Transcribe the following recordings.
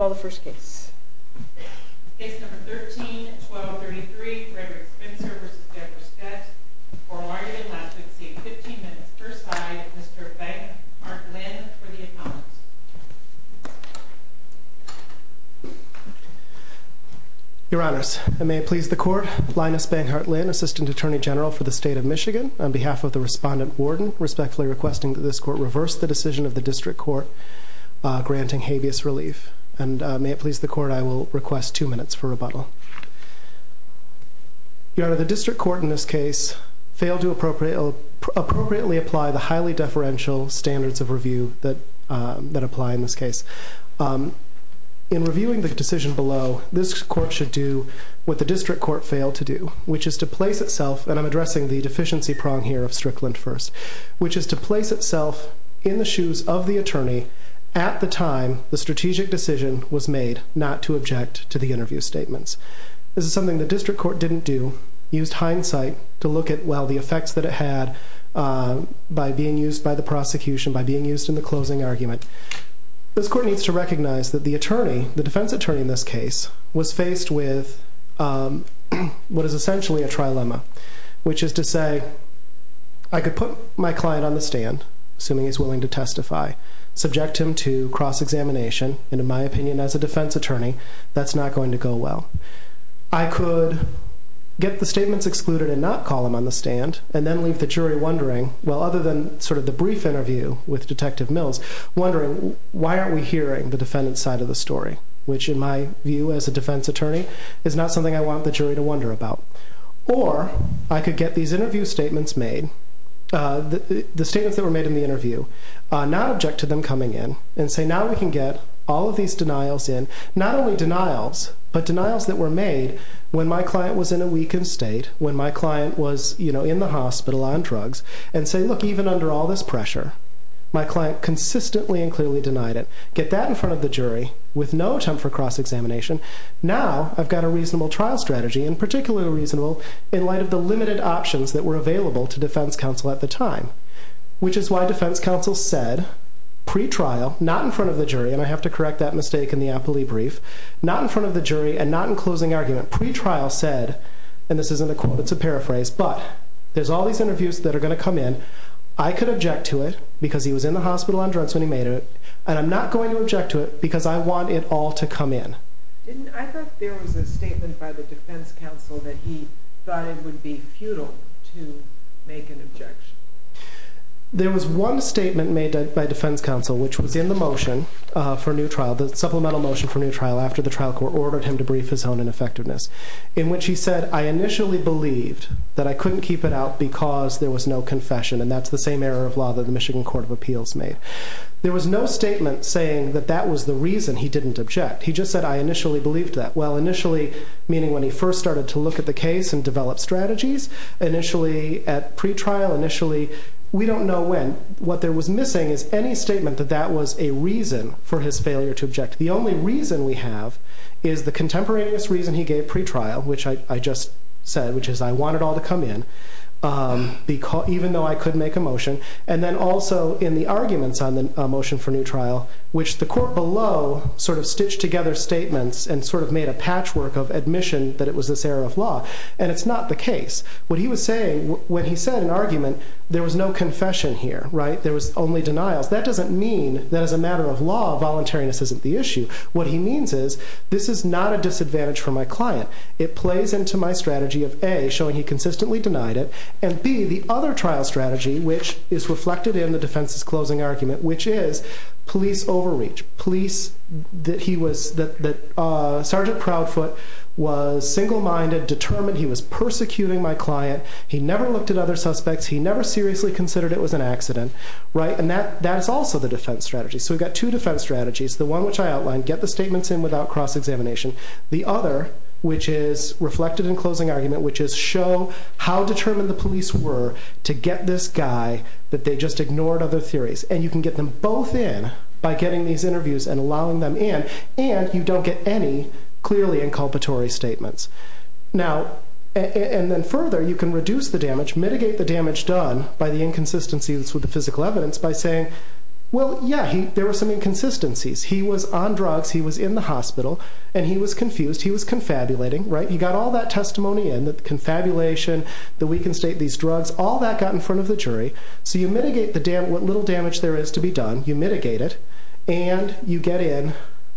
all the first case. It's number 13 12 33. Or are you in last 15 minutes? Your Honor's may please the court. Linus Bang Heartland, Assistant Attorney General for the state of Michigan, on behalf of the respondent warden, respectfully requesting that this court reverse the decision of the district court granting habeas relief. And may it please the court, I will request two minutes for rebuttal. Your Honor, the district court in this case failed to appropriately apply the highly deferential standards of review that apply in this case. In reviewing the decision below, this court should do what the district court failed to do, which is to place itself, and I'm addressing the deficiency prong here of Strickland first, which is to place itself in the shoes of the attorney at the time the strategic decision was made not to object to the interview statements. This is something the district court didn't do, used hindsight to look at, well, the effects that it had by being used by the prosecution, by being used in the closing argument. This court needs to recognize that the attorney, the defense attorney in this case, was faced with what is essentially a trilemma, which is to say, I could put my client on the stand, assuming he's willing to testify, subject him to cross-examination, and in my opinion as a defense attorney, that's not going to go well. I could get the statements excluded and not call him on the stand, and then leave the jury wondering, well, other than sort of the brief interview with Detective Mills, wondering why aren't we hearing the defendant's side of the story, which in my view as a defense attorney is not something I want the jury to wonder about. Or, I could get these interview statements made, the statements that were made in the interview, not object to them coming in, and say, now we can get all of these denials in, not only denials, but denials that were made when my client was in a weakened state, when my client was in the hospital on drugs, and say, look, even under all this pressure, my client consistently and clearly denied it. Get that in front of the jury, I've got a reasonable trial strategy, and particularly reasonable in light of the limited options that were available to defense counsel at the time, which is why defense counsel said, pre-trial, not in front of the jury, and I have to correct that mistake in the appellee brief, not in front of the jury, and not in closing argument, pre-trial said, and this isn't a quote, it's a paraphrase, but there's all these interviews that are going to come in, I could object to it because he was in the hospital on drugs when he made it, and I'm not going to object to it because I want it all to come in. I thought there was a statement by the defense counsel that he thought it would be futile to make an objection. There was one statement made by defense counsel, which was in the motion for a new trial, the supplemental motion for a new trial after the trial court ordered him to brief his own ineffectiveness, in which he said, I initially believed that I couldn't keep it out because there was no confession, and that's the same error of law that the Michigan Court of Appeals made. There was no statement saying that that was the reason he didn't object. He just said, I initially believed that. Well, initially, meaning when he first started to look at the case and develop strategies, initially, at pre-trial, initially, we don't know when. What there was missing is any statement that that was a reason for his failure to object. The only reason we have is the contemporaneous reason he gave pre-trial, which I just said, which is I want it all to come in, even though I could make a motion, and then also in the arguments on the motion for new trial, which the court below sort of stitched together statements and sort of made a patchwork of admission that it was this error of law, and it's not the case. What he was saying, when he said in argument, there was no confession here, right? There was only denials. That doesn't mean that as a matter of law, voluntariness isn't the issue. What he means is, this is not a disadvantage for my client. It plays into my strategy of A, showing he consistently denied it, and B, the other trial strategy, which is reflected in the defense's closing argument, which is police overreach. Police that he was, that Sergeant Proudfoot was single-minded, determined he was persecuting my client. He never looked at other suspects. He never seriously considered it was an accident, right? And that is also the defense strategy. So we've got two defense strategies. The one which I outlined, get the statements in without cross-examination. The other, which is reflected in closing argument, which is show how determined the police were to get this guy that they just ignored other theories. And you can get them both in by getting these interviews and allowing them in, and you don't get any clearly inculpatory statements. And then further, you can reduce the damage, mitigate the damage done by the inconsistencies with the physical evidence by saying, well, yeah, there were some inconsistencies. He was on drugs, he was in the hospital, and he was confused. He was confabulating, right? You got all that testimony in, the confabulation, the weakened state, these drugs, all that got in front of the jury. So you mitigate what little damage there is to be done, you mitigate it, and you get in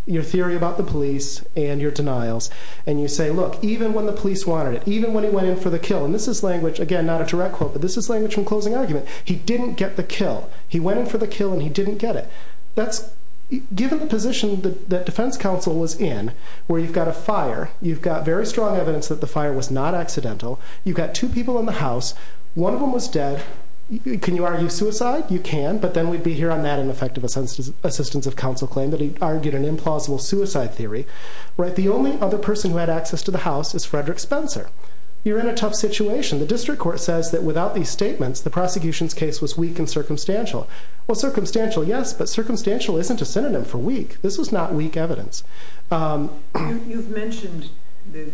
your theory about the police and your denials. And you say, look, even when the police wanted it, even when he went in for the kill, and this is language, again, not a direct quote, but this is language from closing argument, he didn't get the kill. He went in for the kill and he didn't get it. Given the position that defense counsel was in, where you've got a fire, you've got very strong evidence that the fire was not accidental, you've got two people in the house, one of them was dead, can you argue suicide? You can, but then we'd be here on that ineffective assistance of counsel claim that he argued an implausible suicide theory. The only other person who had access to the house is Frederick Spencer. You're in a tough situation. The district court says that without these statements, the prosecution's case was weak and circumstantial. Well, circumstantial, yes, but circumstantial isn't a synonym for weak. This was not weak evidence. You've mentioned the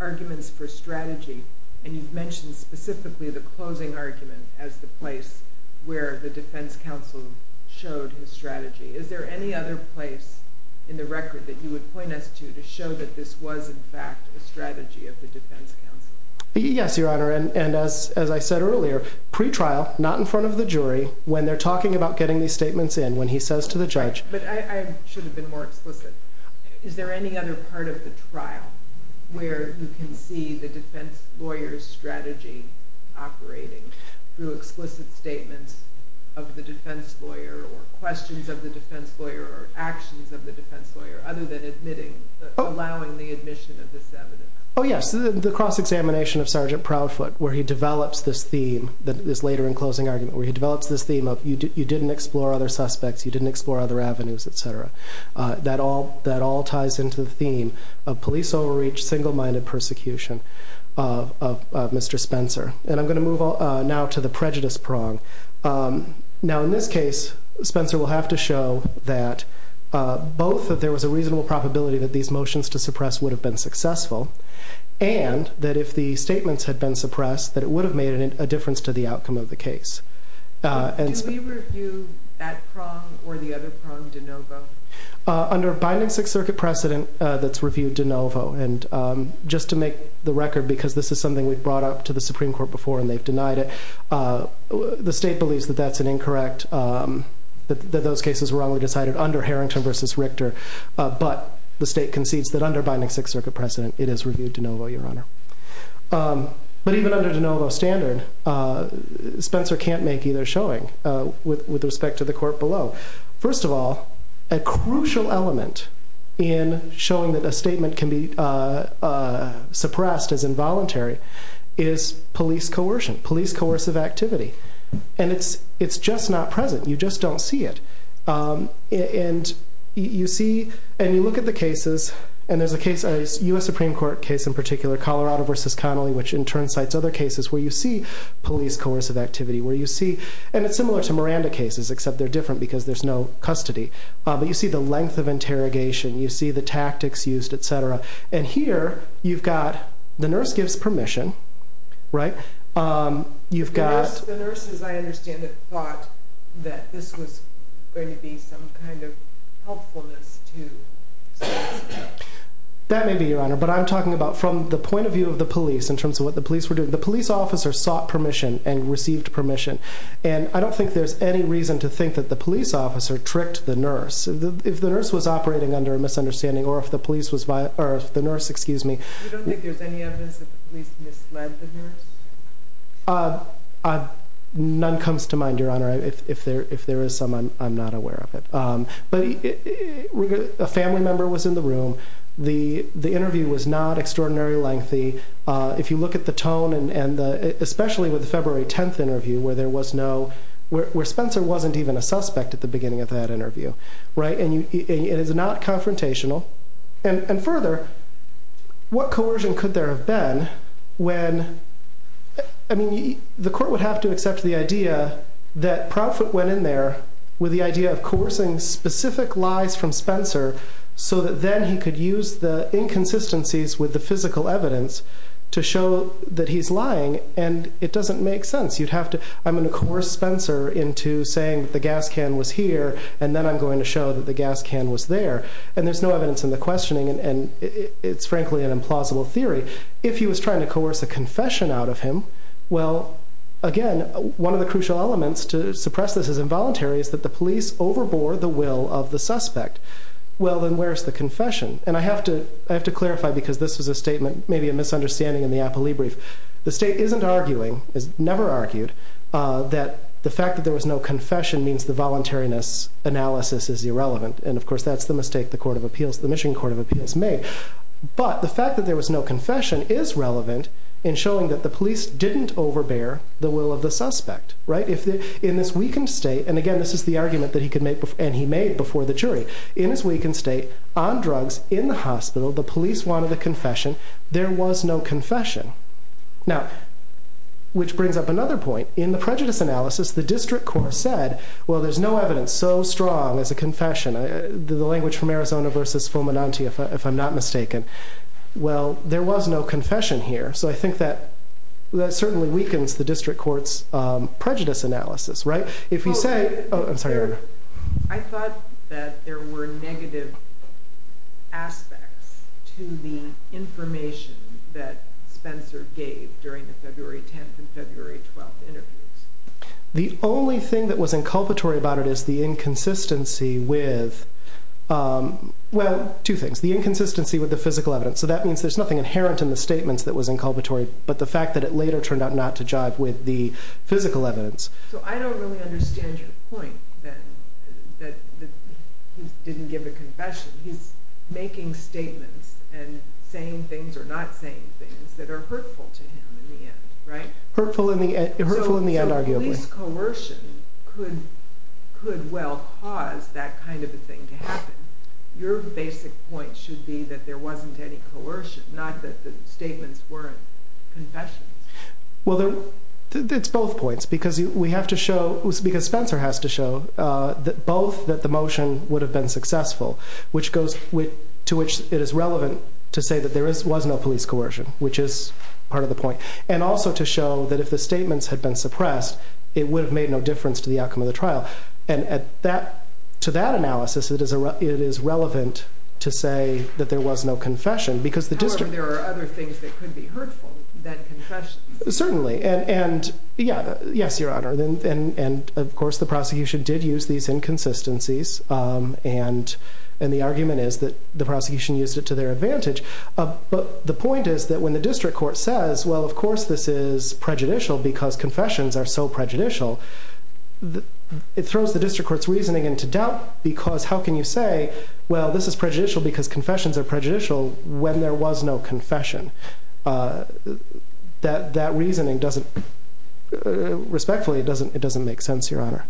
arguments for strategy, and you've mentioned specifically the closing argument as the place where the defense counsel showed his strategy. Is there any other place in the record that you would point us to to show that this was, in fact, a strategy of the defense counsel? Yes, Your Honor, and as I said earlier, pre-trial, not in front of the jury, when they're talking about getting these statements in, when he says to the judge. I should have been more explicit. Is there any other part of the trial where you can see the defense lawyer's strategy operating through explicit statements of the defense lawyer or questions of the defense lawyer or actions of the defense lawyer other than allowing the admission of this evidence? Oh, yes, the cross-examination of Sergeant Proudfoot where he develops this theme that is later in closing argument, where he develops this theme of you didn't explore other suspects, you didn't explore other avenues, etc. That all ties into the theme of police overreach, single-minded persecution of Mr. Spencer. And I'm going to move now to the prejudice prong. Now, in this case, Spencer will have to show that both that there was a reasonable probability that these motions to suppress would have been successful and that if the statements had been suppressed, that it would have made a difference to the outcome of the case. Do we review that prong or the other prong de novo? Under a binding Sixth Circuit precedent, that's reviewed de novo. And just to make the record, because this is something we've brought up to the Supreme Court before and they've denied it, the state believes that that's an incorrect, that those cases were wrong. We decided under Harrington v. Richter, but the state concedes that under binding Sixth Circuit precedent, it is reviewed de novo, Your Honor. But even under de novo standard, Spencer can't make either showing with respect to the court below. First of all, a crucial element in showing that a statement can be suppressed as involuntary is police coercion, police coercive activity. And it's just not present. You just don't see it. And you see and you look at the cases, and there's a case, a U.S. Supreme Court case in particular, Colorado v. Connolly, which in turn cites other cases where you see police coercive activity, where you see, and it's similar to Miranda cases, except they're different because there's no custody. But you see the length of interrogation, you see the tactics used, etc. And here you've got the nurse gives permission, right? The nurses, I understand, thought that this was going to be some kind of helpfulness to... That may be, Your Honor, but I'm talking about from the point of view of the police in terms of what the police were doing. The police officer sought permission and received permission. And I don't think there's any reason to think that the police officer tricked the nurse. If the nurse was operating under a misunderstanding or if the nurse... You don't think there's any evidence that the police misled the nurse? None comes to mind, Your Honor. If there is some, I'm not aware of it. But a family member was in the room. The interview was not extraordinarily lengthy. If you look at the tone, and especially with the February 10th interview where there was no... where Spencer wasn't even a suspect at the beginning of that interview, right? And it is not confrontational. And further, what coercion could there have been when... I mean, the court would have to accept the idea that Proutfoot went in there with the idea of coercing specific lies from Spencer so that then he could use the inconsistencies with the physical evidence to show that he's lying, and it doesn't make sense. You'd have to... I'm going to coerce Spencer into saying that the gas can was here, and then I'm going to show that the gas can was there, and there's no evidence in the questioning, and it's frankly an implausible theory. If he was trying to coerce a confession out of him, well, again, one of the crucial elements to suppress this as involuntary is that the police overbore the will of the suspect. Well, then where's the confession? And I have to clarify, because this was a statement, maybe a misunderstanding in the Apolli brief. The State isn't arguing, has never argued, that the fact that there was no confession means the voluntariness analysis is irrelevant, and of course that's the mistake the Michigan Court of Appeals made. But the fact that there was no confession is relevant in showing that the police didn't overbear the will of the suspect. In this weakened state, and again, this is the argument that he made before the jury. In his weakened state, on drugs, in the hospital, the police wanted a confession, there was no confession. Now, which brings up another point. In the prejudice analysis, the district court said, well, there's no evidence so strong as a confession. The language from Arizona versus Fulminante, if I'm not mistaken. Well, there was no confession here, so I think that certainly weakens the district court's prejudice analysis. If you say... I thought that there were negative aspects to the information that Spencer gave during the February 10th and February 12th interviews. The only thing that was inculpatory about it is the inconsistency with, well, two things. The inconsistency with the physical evidence. So that means there's nothing inherent in the statements that was inculpatory, but the fact that it later turned out not to jive with the physical evidence. So I don't really understand your point, then, that he didn't give a confession. He's making statements and saying things or not saying things that are hurtful to him in the end, right? Hurtful in the end, arguably. So police coercion could well cause that kind of a thing to happen. Your basic point should be that there wasn't any coercion, not that the statements weren't confessions. Well, it's both points, because Spencer has to show both that the motion would have been successful, to which it is relevant to say that there was no police coercion, which is part of the point, and also to show that if the statements had been suppressed, it would have made no difference to the outcome of the trial. And to that analysis, it is relevant to say that there was no confession. However, there are other things that could be hurtful than confessions. Certainly. Yes, Your Honor, and of course the prosecution did use these inconsistencies, and the argument is that the prosecution used it to their advantage. But the point is that when the district court says, well, of course this is prejudicial because confessions are so prejudicial, it throws the district court's reasoning into doubt, because how can you say, well, this is prejudicial because confessions are prejudicial when there was no confession? That reasoning doesn't, respectfully, it doesn't make sense, Your Honor.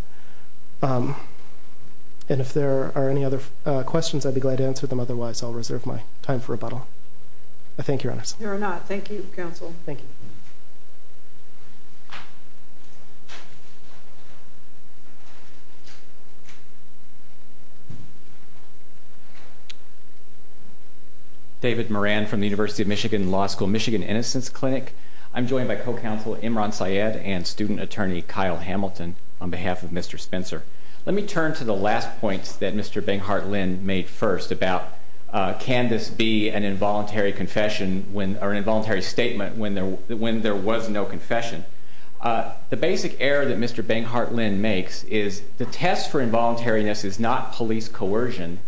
And if there are any other questions, I'd be glad to answer them. Thank you, Your Honor. There are not. Thank you, Counsel. Thank you. David Moran from the University of Michigan Law School Michigan Innocence Clinic. I'm joined by co-counsel Imran Syed and student attorney Kyle Hamilton on behalf of Mr. Spencer. Let me turn to the last points that Mr. Benghart Lynn made first about can this be an involuntary confession or an involuntary statement when there was no confession. The basic error that Mr. Benghart Lynn makes is the test for involuntariness is not police coercion.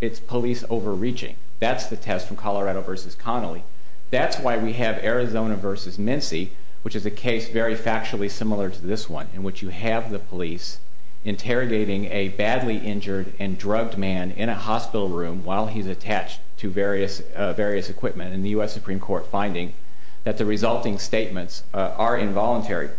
It's police overreaching. That's the test from Colorado v. Connolly. That's why we have Arizona v. Mincy, which is a case very factually similar to this one in which you have the police interrogating a badly injured and drugged man in a hospital room while he's attached to various equipment, and the U.S. Supreme Court finding that the resulting statements are involuntary.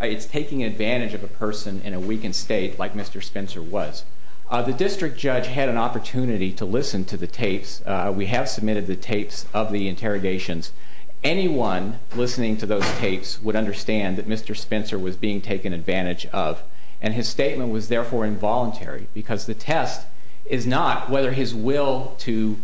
It's taking advantage of a person in a weakened state like Mr. Spencer was. The district judge had an opportunity to listen to the tapes. We have submitted the tapes of the interrogations. Anyone listening to those tapes would understand that Mr. Spencer was being taken advantage of, and his statement was therefore involuntary because the test is not whether his will to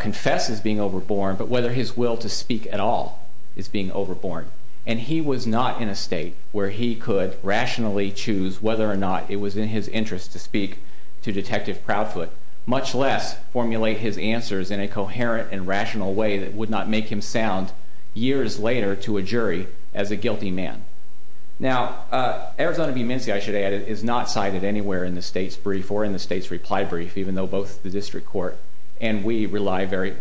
confess is being overborne, but whether his will to speak at all is being overborne. And he was not in a state where he could rationally choose whether or not it was in his interest to speak to Detective Proudfoot, much less formulate his answers in a coherent and rational way that would not make him sound years later to a jury as a guilty man. Now, Arizona v. Mincy, I should add, is not cited anywhere in the state's brief or in the state's reply brief, even though both the district court and we rely very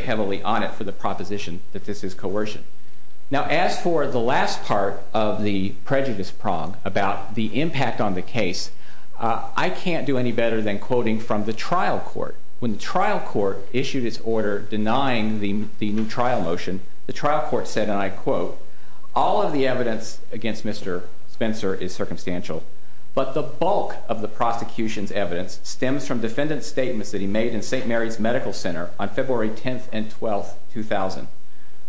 heavily on it for the proposition that this is coercion. Now, as for the last part of the prejudice prong about the impact on the case, I can't do any better than quoting from the trial court. When the trial court issued its order denying the new trial motion, the trial court said, and I quote, all of the evidence against Mr. Spencer is circumstantial, but the bulk of the prosecution's evidence stems from defendant's statements that he made in St. Mary's Medical Center on February 10th and 12th, 2000.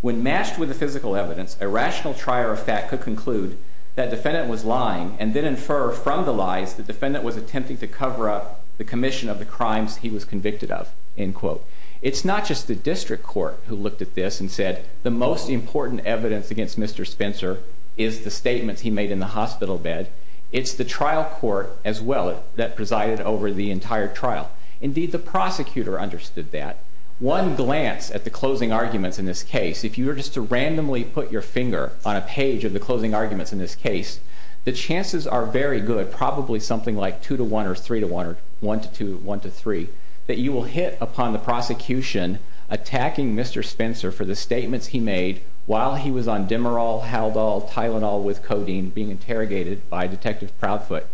When matched with the physical evidence, a rational trier of fact could conclude that defendant was lying and then infer from the lies the defendant was attempting to cover up the commission of the crimes he was convicted of, end quote. It's not just the district court who looked at this and said, the most important evidence against Mr. Spencer is the statements he made in the hospital bed. It's the trial court as well that presided over the entire trial. Indeed, the prosecutor understood that. One glance at the closing arguments in this case, if you were just to randomly put your finger on a page of the closing arguments in this case, the chances are very good, probably something like 2 to 1 or 3 to 1 or 1 to 2, 1 to 3, that you will hit upon the prosecution attacking Mr. Spencer for the statements he made while he was on Demerol, Haldol, Tylenol with codeine being interrogated by Detective Proudfoot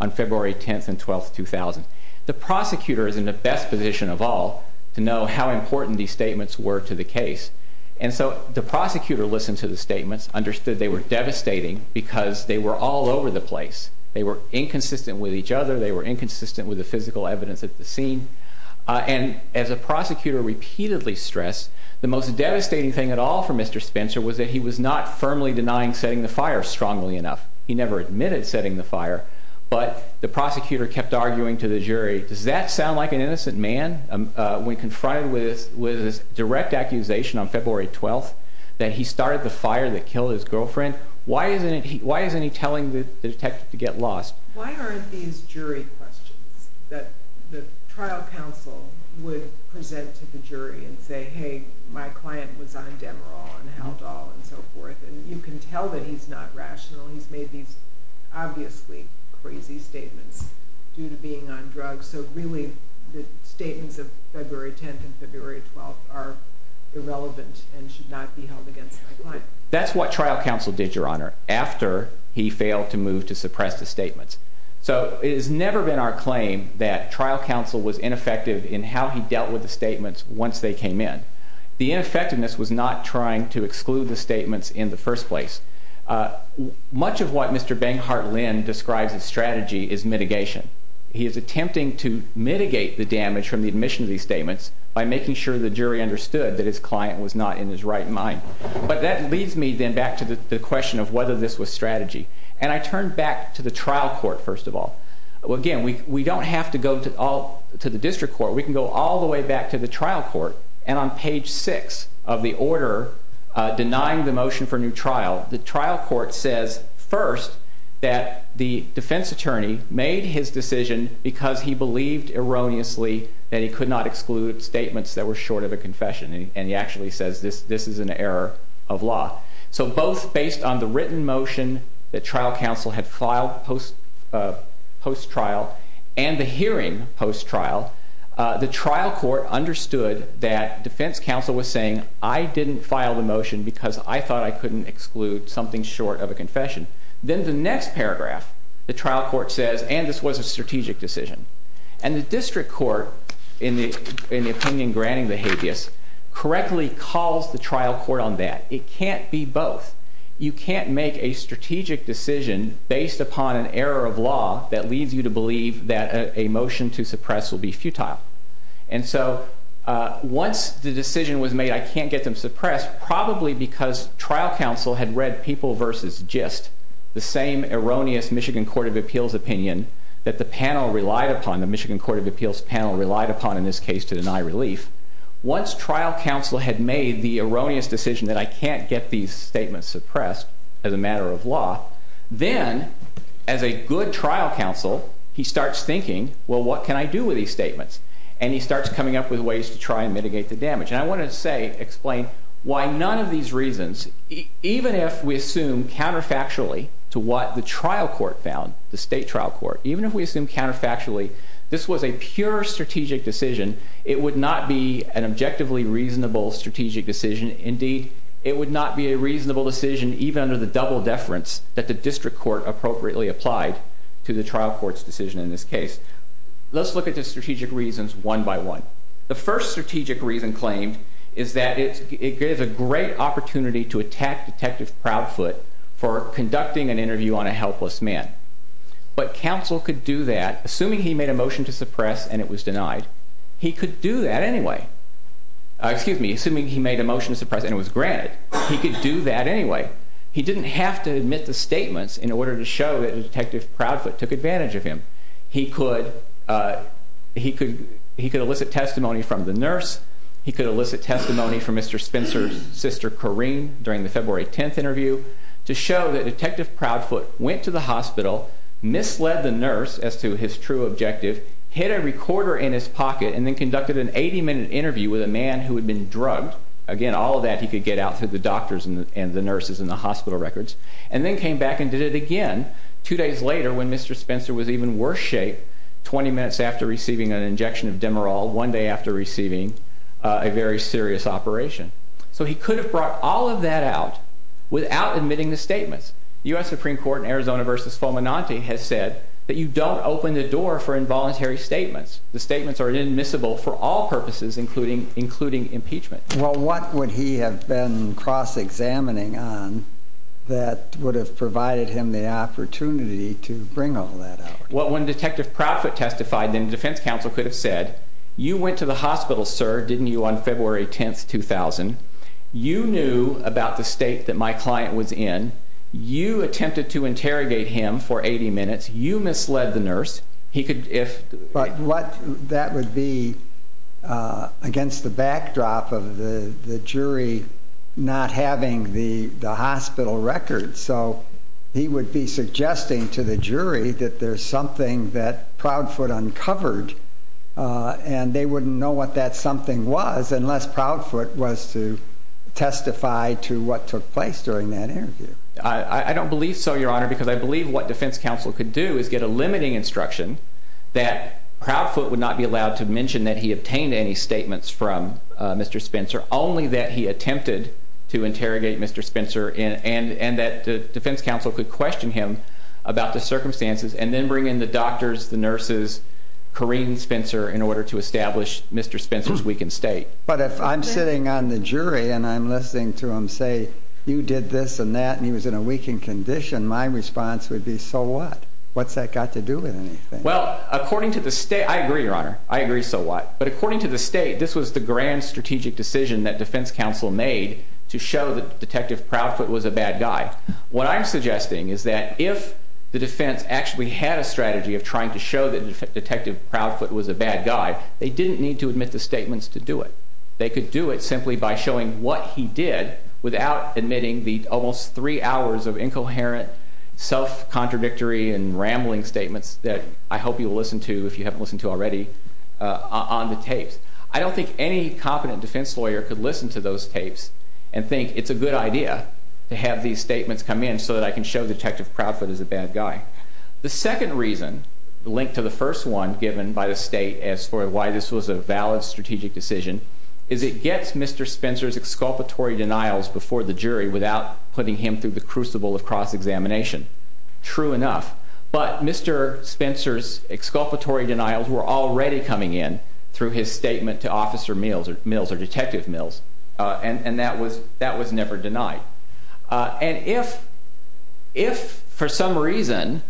on February 10th and 12th, 2000. The prosecutor is in the best position of all to know how important these statements were to the case, and so the prosecutor listened to the statements, understood they were devastating because they were all over the place. They were inconsistent with each other. They were inconsistent with the physical evidence at the scene. And as the prosecutor repeatedly stressed, the most devastating thing at all for Mr. Spencer was that he was not firmly denying setting the fire strongly enough. He never admitted setting the fire, but the prosecutor kept arguing to the jury, does that sound like an innocent man? When confronted with this direct accusation on February 12th that he started the fire that killed his girlfriend, why isn't he telling the detective to get lost? Why aren't these jury questions that the trial counsel would present to the jury and say, hey, my client was on Demerol and Haldol and so forth, and you can tell that he's not rational, he's made these obviously crazy statements due to being on drugs, so really the statements of February 10th and February 12th are irrelevant and should not be held against my client? That's what trial counsel did, Your Honor, after he failed to move to suppress the statements. So it has never been our claim that trial counsel was ineffective in how he dealt with the statements once they came in. The ineffectiveness was not trying to exclude the statements in the first place. Much of what Mr. Bangheart Lynn describes as strategy is mitigation. He is attempting to mitigate the damage from the admission of these statements by making sure the jury understood that his client was not in his right mind. But that leads me then back to the question of whether this was strategy. And I turn back to the trial court, first of all. Again, we don't have to go to the district court. We can go all the way back to the trial court, and on page 6 of the order denying the motion for new trial, the trial court says first that the defense attorney made his decision because he believed erroneously that he could not exclude statements that were short of a confession, and he actually says this is an error of law. So both based on the written motion that trial counsel had filed post-trial and the hearing post-trial, the trial court understood that defense counsel was saying, I didn't file the motion because I thought I couldn't exclude something short of a confession. Then the next paragraph, the trial court says, and this was a strategic decision, and the district court, in the opinion granting the habeas, correctly calls the trial court on that. It can't be both. You can't make a strategic decision based upon an error of law that leads you to believe that a motion to suppress will be futile. And so once the decision was made I can't get them suppressed probably because trial counsel had read People v. Gist, the same erroneous Michigan Court of Appeals opinion that the panel relied upon, the Michigan Court of Appeals panel, relied upon in this case to deny relief. Once trial counsel had made the erroneous decision that I can't get these statements suppressed as a matter of law, then as a good trial counsel he starts thinking, well, what can I do with these statements? And he starts coming up with ways to try and mitigate the damage. And I want to explain why none of these reasons, even if we assume counterfactually to what the trial court found, the state trial court, even if we assume counterfactually this was a pure strategic decision, it would not be an objectively reasonable strategic decision. Indeed, it would not be a reasonable decision even under the double deference that the district court appropriately applied to the trial court's decision in this case. Let's look at the strategic reasons one by one. The first strategic reason claimed is that it gives a great opportunity to attack Detective Proudfoot for conducting an interview on a helpless man. But counsel could do that, assuming he made a motion to suppress and it was granted. He could do that anyway. He didn't have to admit the statements in order to show that Detective Proudfoot took advantage of him. He could elicit testimony from the nurse. He could elicit testimony from Mr. Spencer's sister, Corrine, during the February 10th interview, to show that Detective Proudfoot went to the hospital, misled the nurse as to his true objective, hid a recorder in his pocket, and then conducted an 80-minute interview with a man who had been drugged. Again, all of that he could get out to the doctors and the nurses and the hospital records, and then came back and did it again two days later when Mr. Spencer was even worse shape, 20 minutes after receiving an injection of Demerol, one day after receiving a very serious operation. So he could have brought all of that out without admitting the statements. The U.S. Supreme Court in Arizona v. Fomenanti has said that you don't open the door for involuntary statements. The statements are inadmissible for all purposes, including impeachment. Well, what would he have been cross-examining on that would have provided him the opportunity to bring all that out? Well, when Detective Proudfoot testified, then the defense counsel could have said, You went to the hospital, sir, didn't you, on February 10, 2000. You knew about the state that my client was in. You attempted to interrogate him for 80 minutes. You misled the nurse. But that would be against the backdrop of the jury not having the hospital records. So he would be suggesting to the jury that there's something that Proudfoot uncovered, and they wouldn't know what that something was unless Proudfoot was to testify to what took place during that interview. I don't believe so, Your Honor, because I believe what defense counsel could do is get a limiting instruction that Proudfoot would not be allowed to mention that he obtained any statements from Mr. Spencer, only that he attempted to interrogate Mr. Spencer, and that the defense counsel could question him about the circumstances, and then bring in the doctors, the nurses, Corrine and Spencer, in order to establish Mr. Spencer's weakened state. But if I'm sitting on the jury and I'm listening to him say, You did this and that, and he was in a weakened condition, my response would be, So what? What's that got to do with anything? Well, according to the state, I agree, Your Honor. I agree so what. But according to the state, this was the grand strategic decision that defense counsel made to show that Detective Proudfoot was a bad guy. What I'm suggesting is that if the defense actually had a strategy of trying to show that Detective Proudfoot was a bad guy, they didn't need to admit the statements to do it. They could do it simply by showing what he did without admitting the almost 3 hours of incoherent, self-contradictory, and rambling statements that I hope you'll listen to, if you haven't listened to already, on the tapes. I don't think any competent defense lawyer could listen to those tapes and think it's a good idea to have these statements come in so that I can show Detective Proudfoot is a bad guy. The second reason, linked to the first one given by the state as for why this was a valid strategic decision, is it gets Mr. Spencer's exculpatory denials before the jury without putting him through the crucible of cross-examination. True enough, but Mr. Spencer's exculpatory denials were already coming in through his statement to Officer Mills or Detective Mills, and that was never denied. And if, for some reason,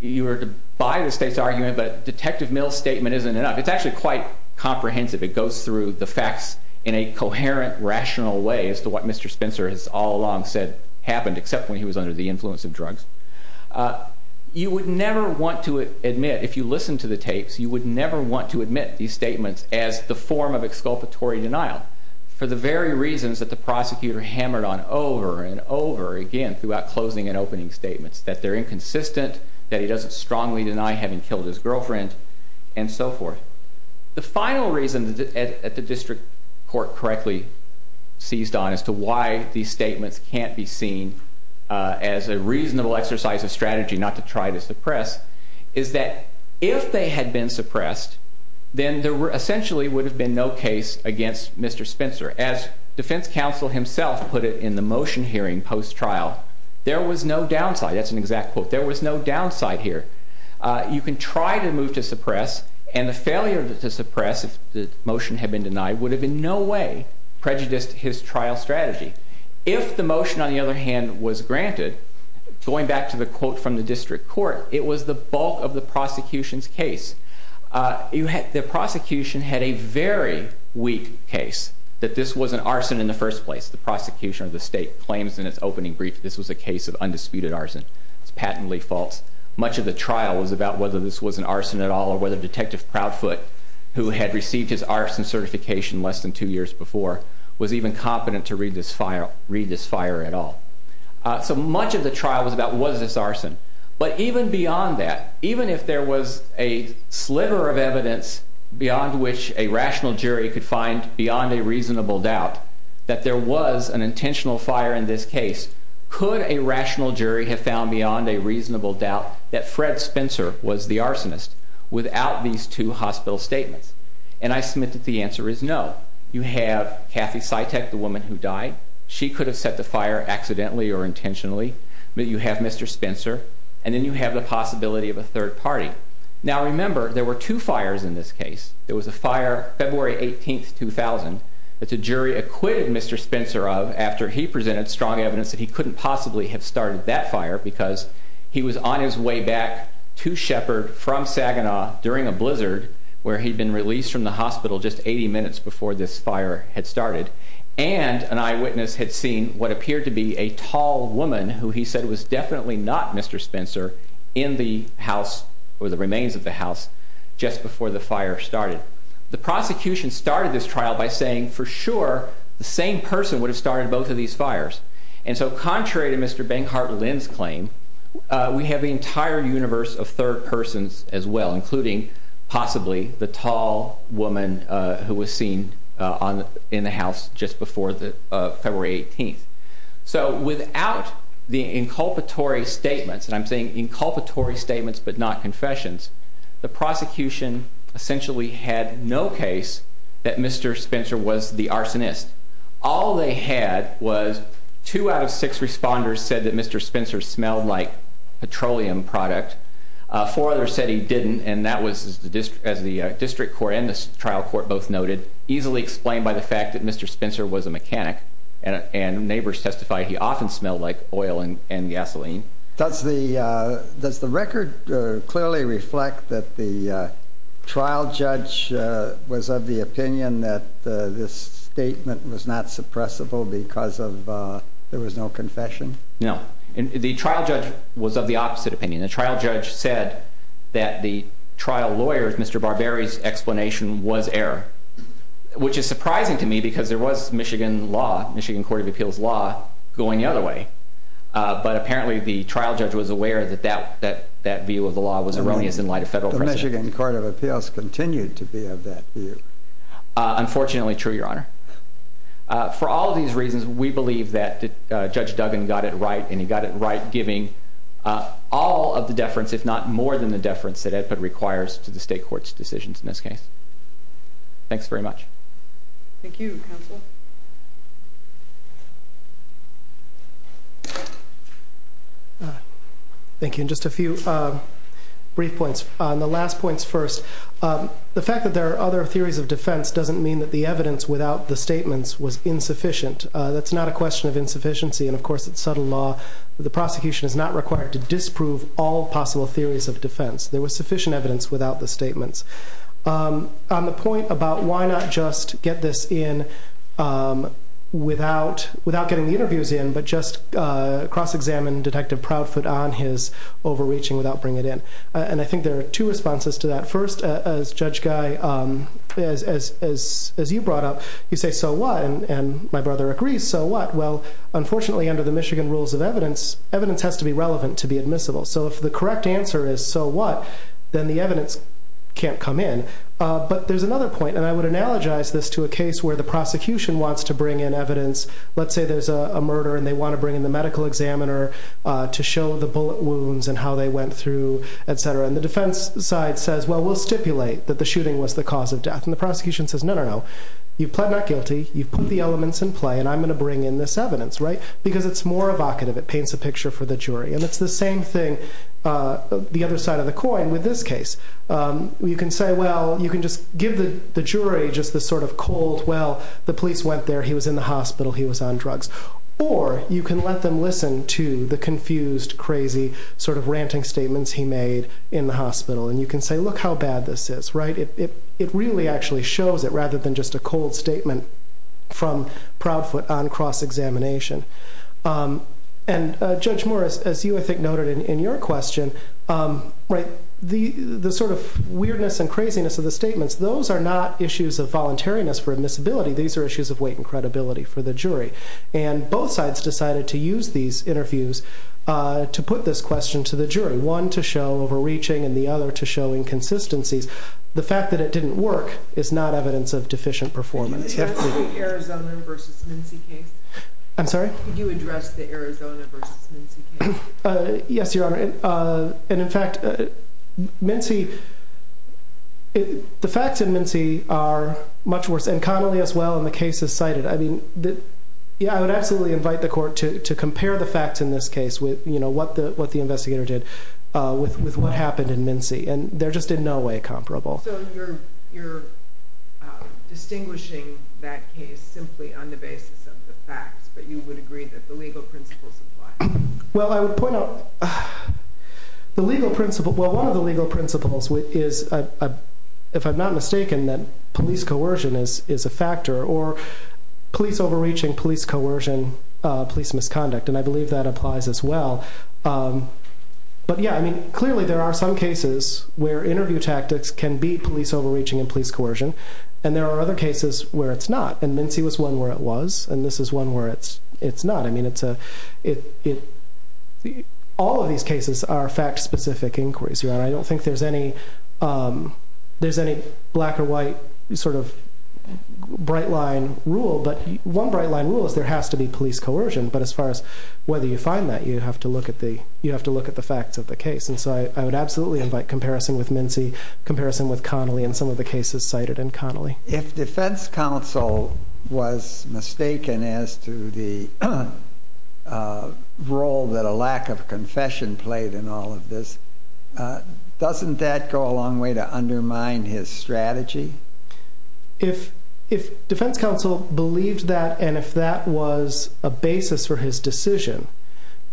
you were to buy the state's argument that Detective Mills' statement isn't enough, it's actually quite comprehensive, it goes through the facts in a coherent, rational way as to what Mr. Spencer has all along said happened, except when he was under the influence of drugs, you would never want to admit, if you listen to the tapes, you would never want to admit these statements as the form of exculpatory denial, for the very reasons that the prosecutor hammered on over and over again throughout closing and opening statements, that they're inconsistent, that he doesn't strongly deny having killed his girlfriend, and so forth. The final reason that the district court correctly seized on as to why these statements can't be seen as a reasonable exercise of strategy not to try to suppress is that if they had been suppressed, then there essentially would have been no case against Mr. Spencer. As defense counsel himself put it in the motion hearing post-trial, there was no downside, that's an exact quote, there was no downside here. You can try to move to suppress, and the failure to suppress, if the motion had been denied, would have in no way prejudiced his trial strategy. If the motion, on the other hand, was granted, going back to the quote from the district court, it was the bulk of the prosecution's case. The prosecution had a very weak case, that this was an arson in the first place. The prosecution or the state claims in its opening brief that this was a case of undisputed arson. It's patently false. Much of the trial was about whether this was an arson at all or whether Detective Proudfoot, who had received his arson certification less than two years before, was even competent to read this fire at all. So much of the trial was about, was this arson? But even beyond that, even if there was a sliver of evidence beyond which a rational jury could find beyond a reasonable doubt that there was an intentional fire in this case, could a rational jury have found beyond a reasonable doubt that Fred Spencer was the arsonist without these two hospital statements? And I submit that the answer is no. You have Kathy Sytek, the woman who died. She could have set the fire accidentally or intentionally. But you have Mr. Spencer, and then you have the possibility of a third party. Now remember, there were two fires in this case. There was a fire February 18, 2000, that the jury acquitted Mr. Spencer of after he presented strong evidence that he couldn't possibly have started that fire because he was on his way back to Sheppard from Saginaw during a blizzard where he'd been released from the hospital just 80 minutes before this fire had started. And an eyewitness had seen what appeared to be a tall woman who he said was definitely not Mr. Spencer in the house or the remains of the house just before the fire started. The prosecution started this trial by saying, for sure, the same person would have started both of these fires. And so contrary to Mr. Bancart-Linn's claim, we have the entire universe of third persons as well, including possibly the tall woman who was seen in the house just before February 18. So without the inculpatory statements, and I'm saying inculpatory statements but not confessions, the prosecution essentially had no case that Mr. Spencer was the arsonist. All they had was two out of six responders said that Mr. Spencer smelled like petroleum product, four others said he didn't, and that was, as the district court and the trial court both noted, easily explained by the fact that Mr. Spencer was a mechanic and neighbors testified he often smelled like oil and gasoline. Does the record clearly reflect that the trial judge was of the opinion that this statement was not suppressible because there was no confession? No. The trial judge was of the opposite opinion. The trial judge said that the trial lawyer, Mr. Barberry's explanation, was error, which is surprising to me because there was Michigan law, Michigan Court of Appeals law, going the other way. But apparently the trial judge was aware that that view of the law was erroneous in light of federal precedent. The Michigan Court of Appeals continued to be of that view. Unfortunately true, Your Honor. For all these reasons, we believe that Judge Duggan got it right and he got it right giving all of the deference, if not more than the deference that it requires to the state court's decisions in this case. Thanks very much. Thank you, counsel. Thank you. And just a few brief points. The last points first. The fact that there are other theories of defense doesn't mean that the evidence without the statements was insufficient. That's not a question of insufficiency, and of course it's subtle law. The prosecution is not required to disprove all possible theories of defense. There was sufficient evidence without the statements. On the point about why not just get this in without getting the interviews in, but just cross-examine Detective Proudfoot on his overreaching without bringing it in. And I think there are two responses to that. First, as Judge Guy, as you brought up, you say, so what? And my brother agrees, so what? Well, unfortunately, under the Michigan Rules of Evidence, evidence has to be relevant to be admissible. So if the correct answer is, so what, then the evidence can't come in. But there's another point, and I would analogize this to a case where the prosecution wants to bring in evidence. Let's say there's a murder, and they want to bring in the medical examiner to show the bullet wounds and how they went through, et cetera. And the defense side says, well, we'll stipulate that the shooting was the cause of death. And the prosecution says, no, no, no. You've pled not guilty, you've put the elements in play, and I'm going to bring in this evidence, right? Because it's more evocative, it paints a picture for the jury. And it's the same thing, the other side of the coin, with this case. You can say, well, you can just give the jury just this sort of cold, well, the police went there, he was in the hospital, he was on drugs. Or you can let them listen to the confused, crazy sort of ranting statements he made in the hospital. And you can say, look how bad this is, right? It really actually shows it, rather than just a cold statement from Proudfoot on cross-examination. And Judge Morris, as you, I think, noted in your question, the sort of weirdness and craziness of the statements, those are not issues of voluntariness for admissibility. These are issues of weight and credibility for the jury. And both sides decided to use these interviews to put this question to the jury, one to show overreaching and the other to show inconsistencies. The fact that it didn't work is not evidence of deficient performance. Can you address the Arizona versus Mincy case? I'm sorry? Can you address the Arizona versus Mincy case? Yes, Your Honor. And in fact, Mincy, the facts in Mincy are much worse. And Connelly as well, and the cases cited. I mean, I would absolutely invite the court to compare the facts in this case with what the investigator did with what happened in Mincy. And they're just in no way comparable. So you're distinguishing that case simply on the basis of the facts, but you would agree that the legal principles apply. Well, I would point out the legal principle. Well, one of the legal principles is, if I'm not mistaken, that police coercion is a factor, or police overreaching, police coercion, police misconduct. And I believe that applies as well. But yeah, I mean, clearly there are some cases where interview tactics can beat police overreaching and police coercion. And there are other cases where it's not. And Mincy was one where it was. And this is one where it's not. I mean, all of these cases are fact-specific inquiries. Your Honor, I don't think there's any black or white sort of bright line rule. But one bright line rule is there has to be police coercion. But as far as whether you find that, you have to look at the facts of the case. And so I would absolutely invite comparison with Mincy, comparison with Connolly, and some of the cases cited in Connolly. If defense counsel was mistaken as to the role that a lack of confession played in all of this, doesn't that go a long way to undermine his strategy? If defense counsel believed that,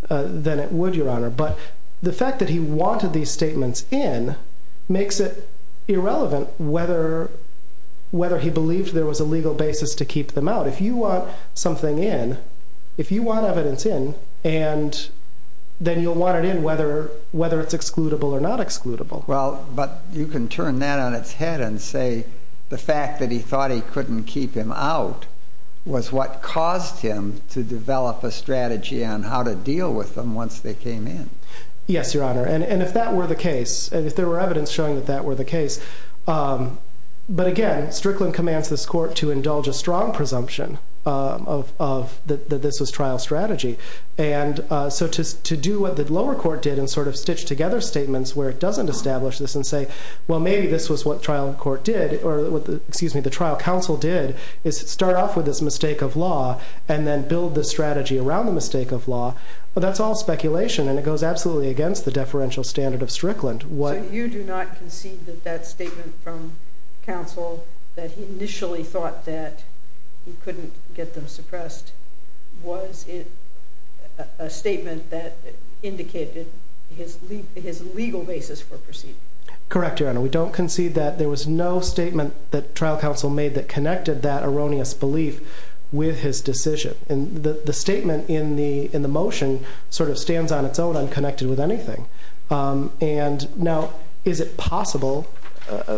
then it would, Your Honor. But the fact that he wanted these statements in makes it irrelevant whether he believed there was a legal basis to keep them out. If you want something in, if you want evidence in, then you'll want it in whether it's excludable or not excludable. Well, but you can turn that on its head and say the fact that he thought he couldn't keep him out was what caused him to develop a strategy on how to deal with them once they came in. Yes, Your Honor. And if that were the case, if there were evidence showing that that were the case. But again, Strickland commands this court to indulge a strong presumption that this was trial strategy. And so to do what the lower court did and sort of stitch together statements where it doesn't establish this and say, well, maybe this was what trial court did, or excuse me, the trial counsel did, is start off with this mistake of law and then build the strategy around the mistake of law. Well, that's all speculation, and it goes absolutely against the deferential standard of Strickland. So you do not concede that that statement from counsel that he initially thought that he couldn't get them suppressed was a statement that indicated his legal basis for proceeding? Correct, Your Honor. We don't concede that there was no statement that trial counsel made that connected that erroneous belief with his decision. And the statement in the motion sort of stands on its own, unconnected with anything. And now, is it possible?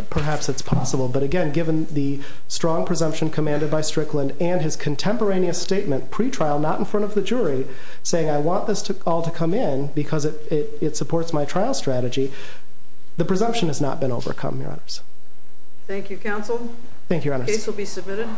Perhaps it's possible. But again, given the strong presumption commanded by Strickland and his contemporaneous statement pretrial, not in front of the jury, saying I want this all to come in because it supports my trial strategy, the presumption has not been overcome, Your Honors. Thank you, counsel. Thank you, Your Honors. The case will be submitted.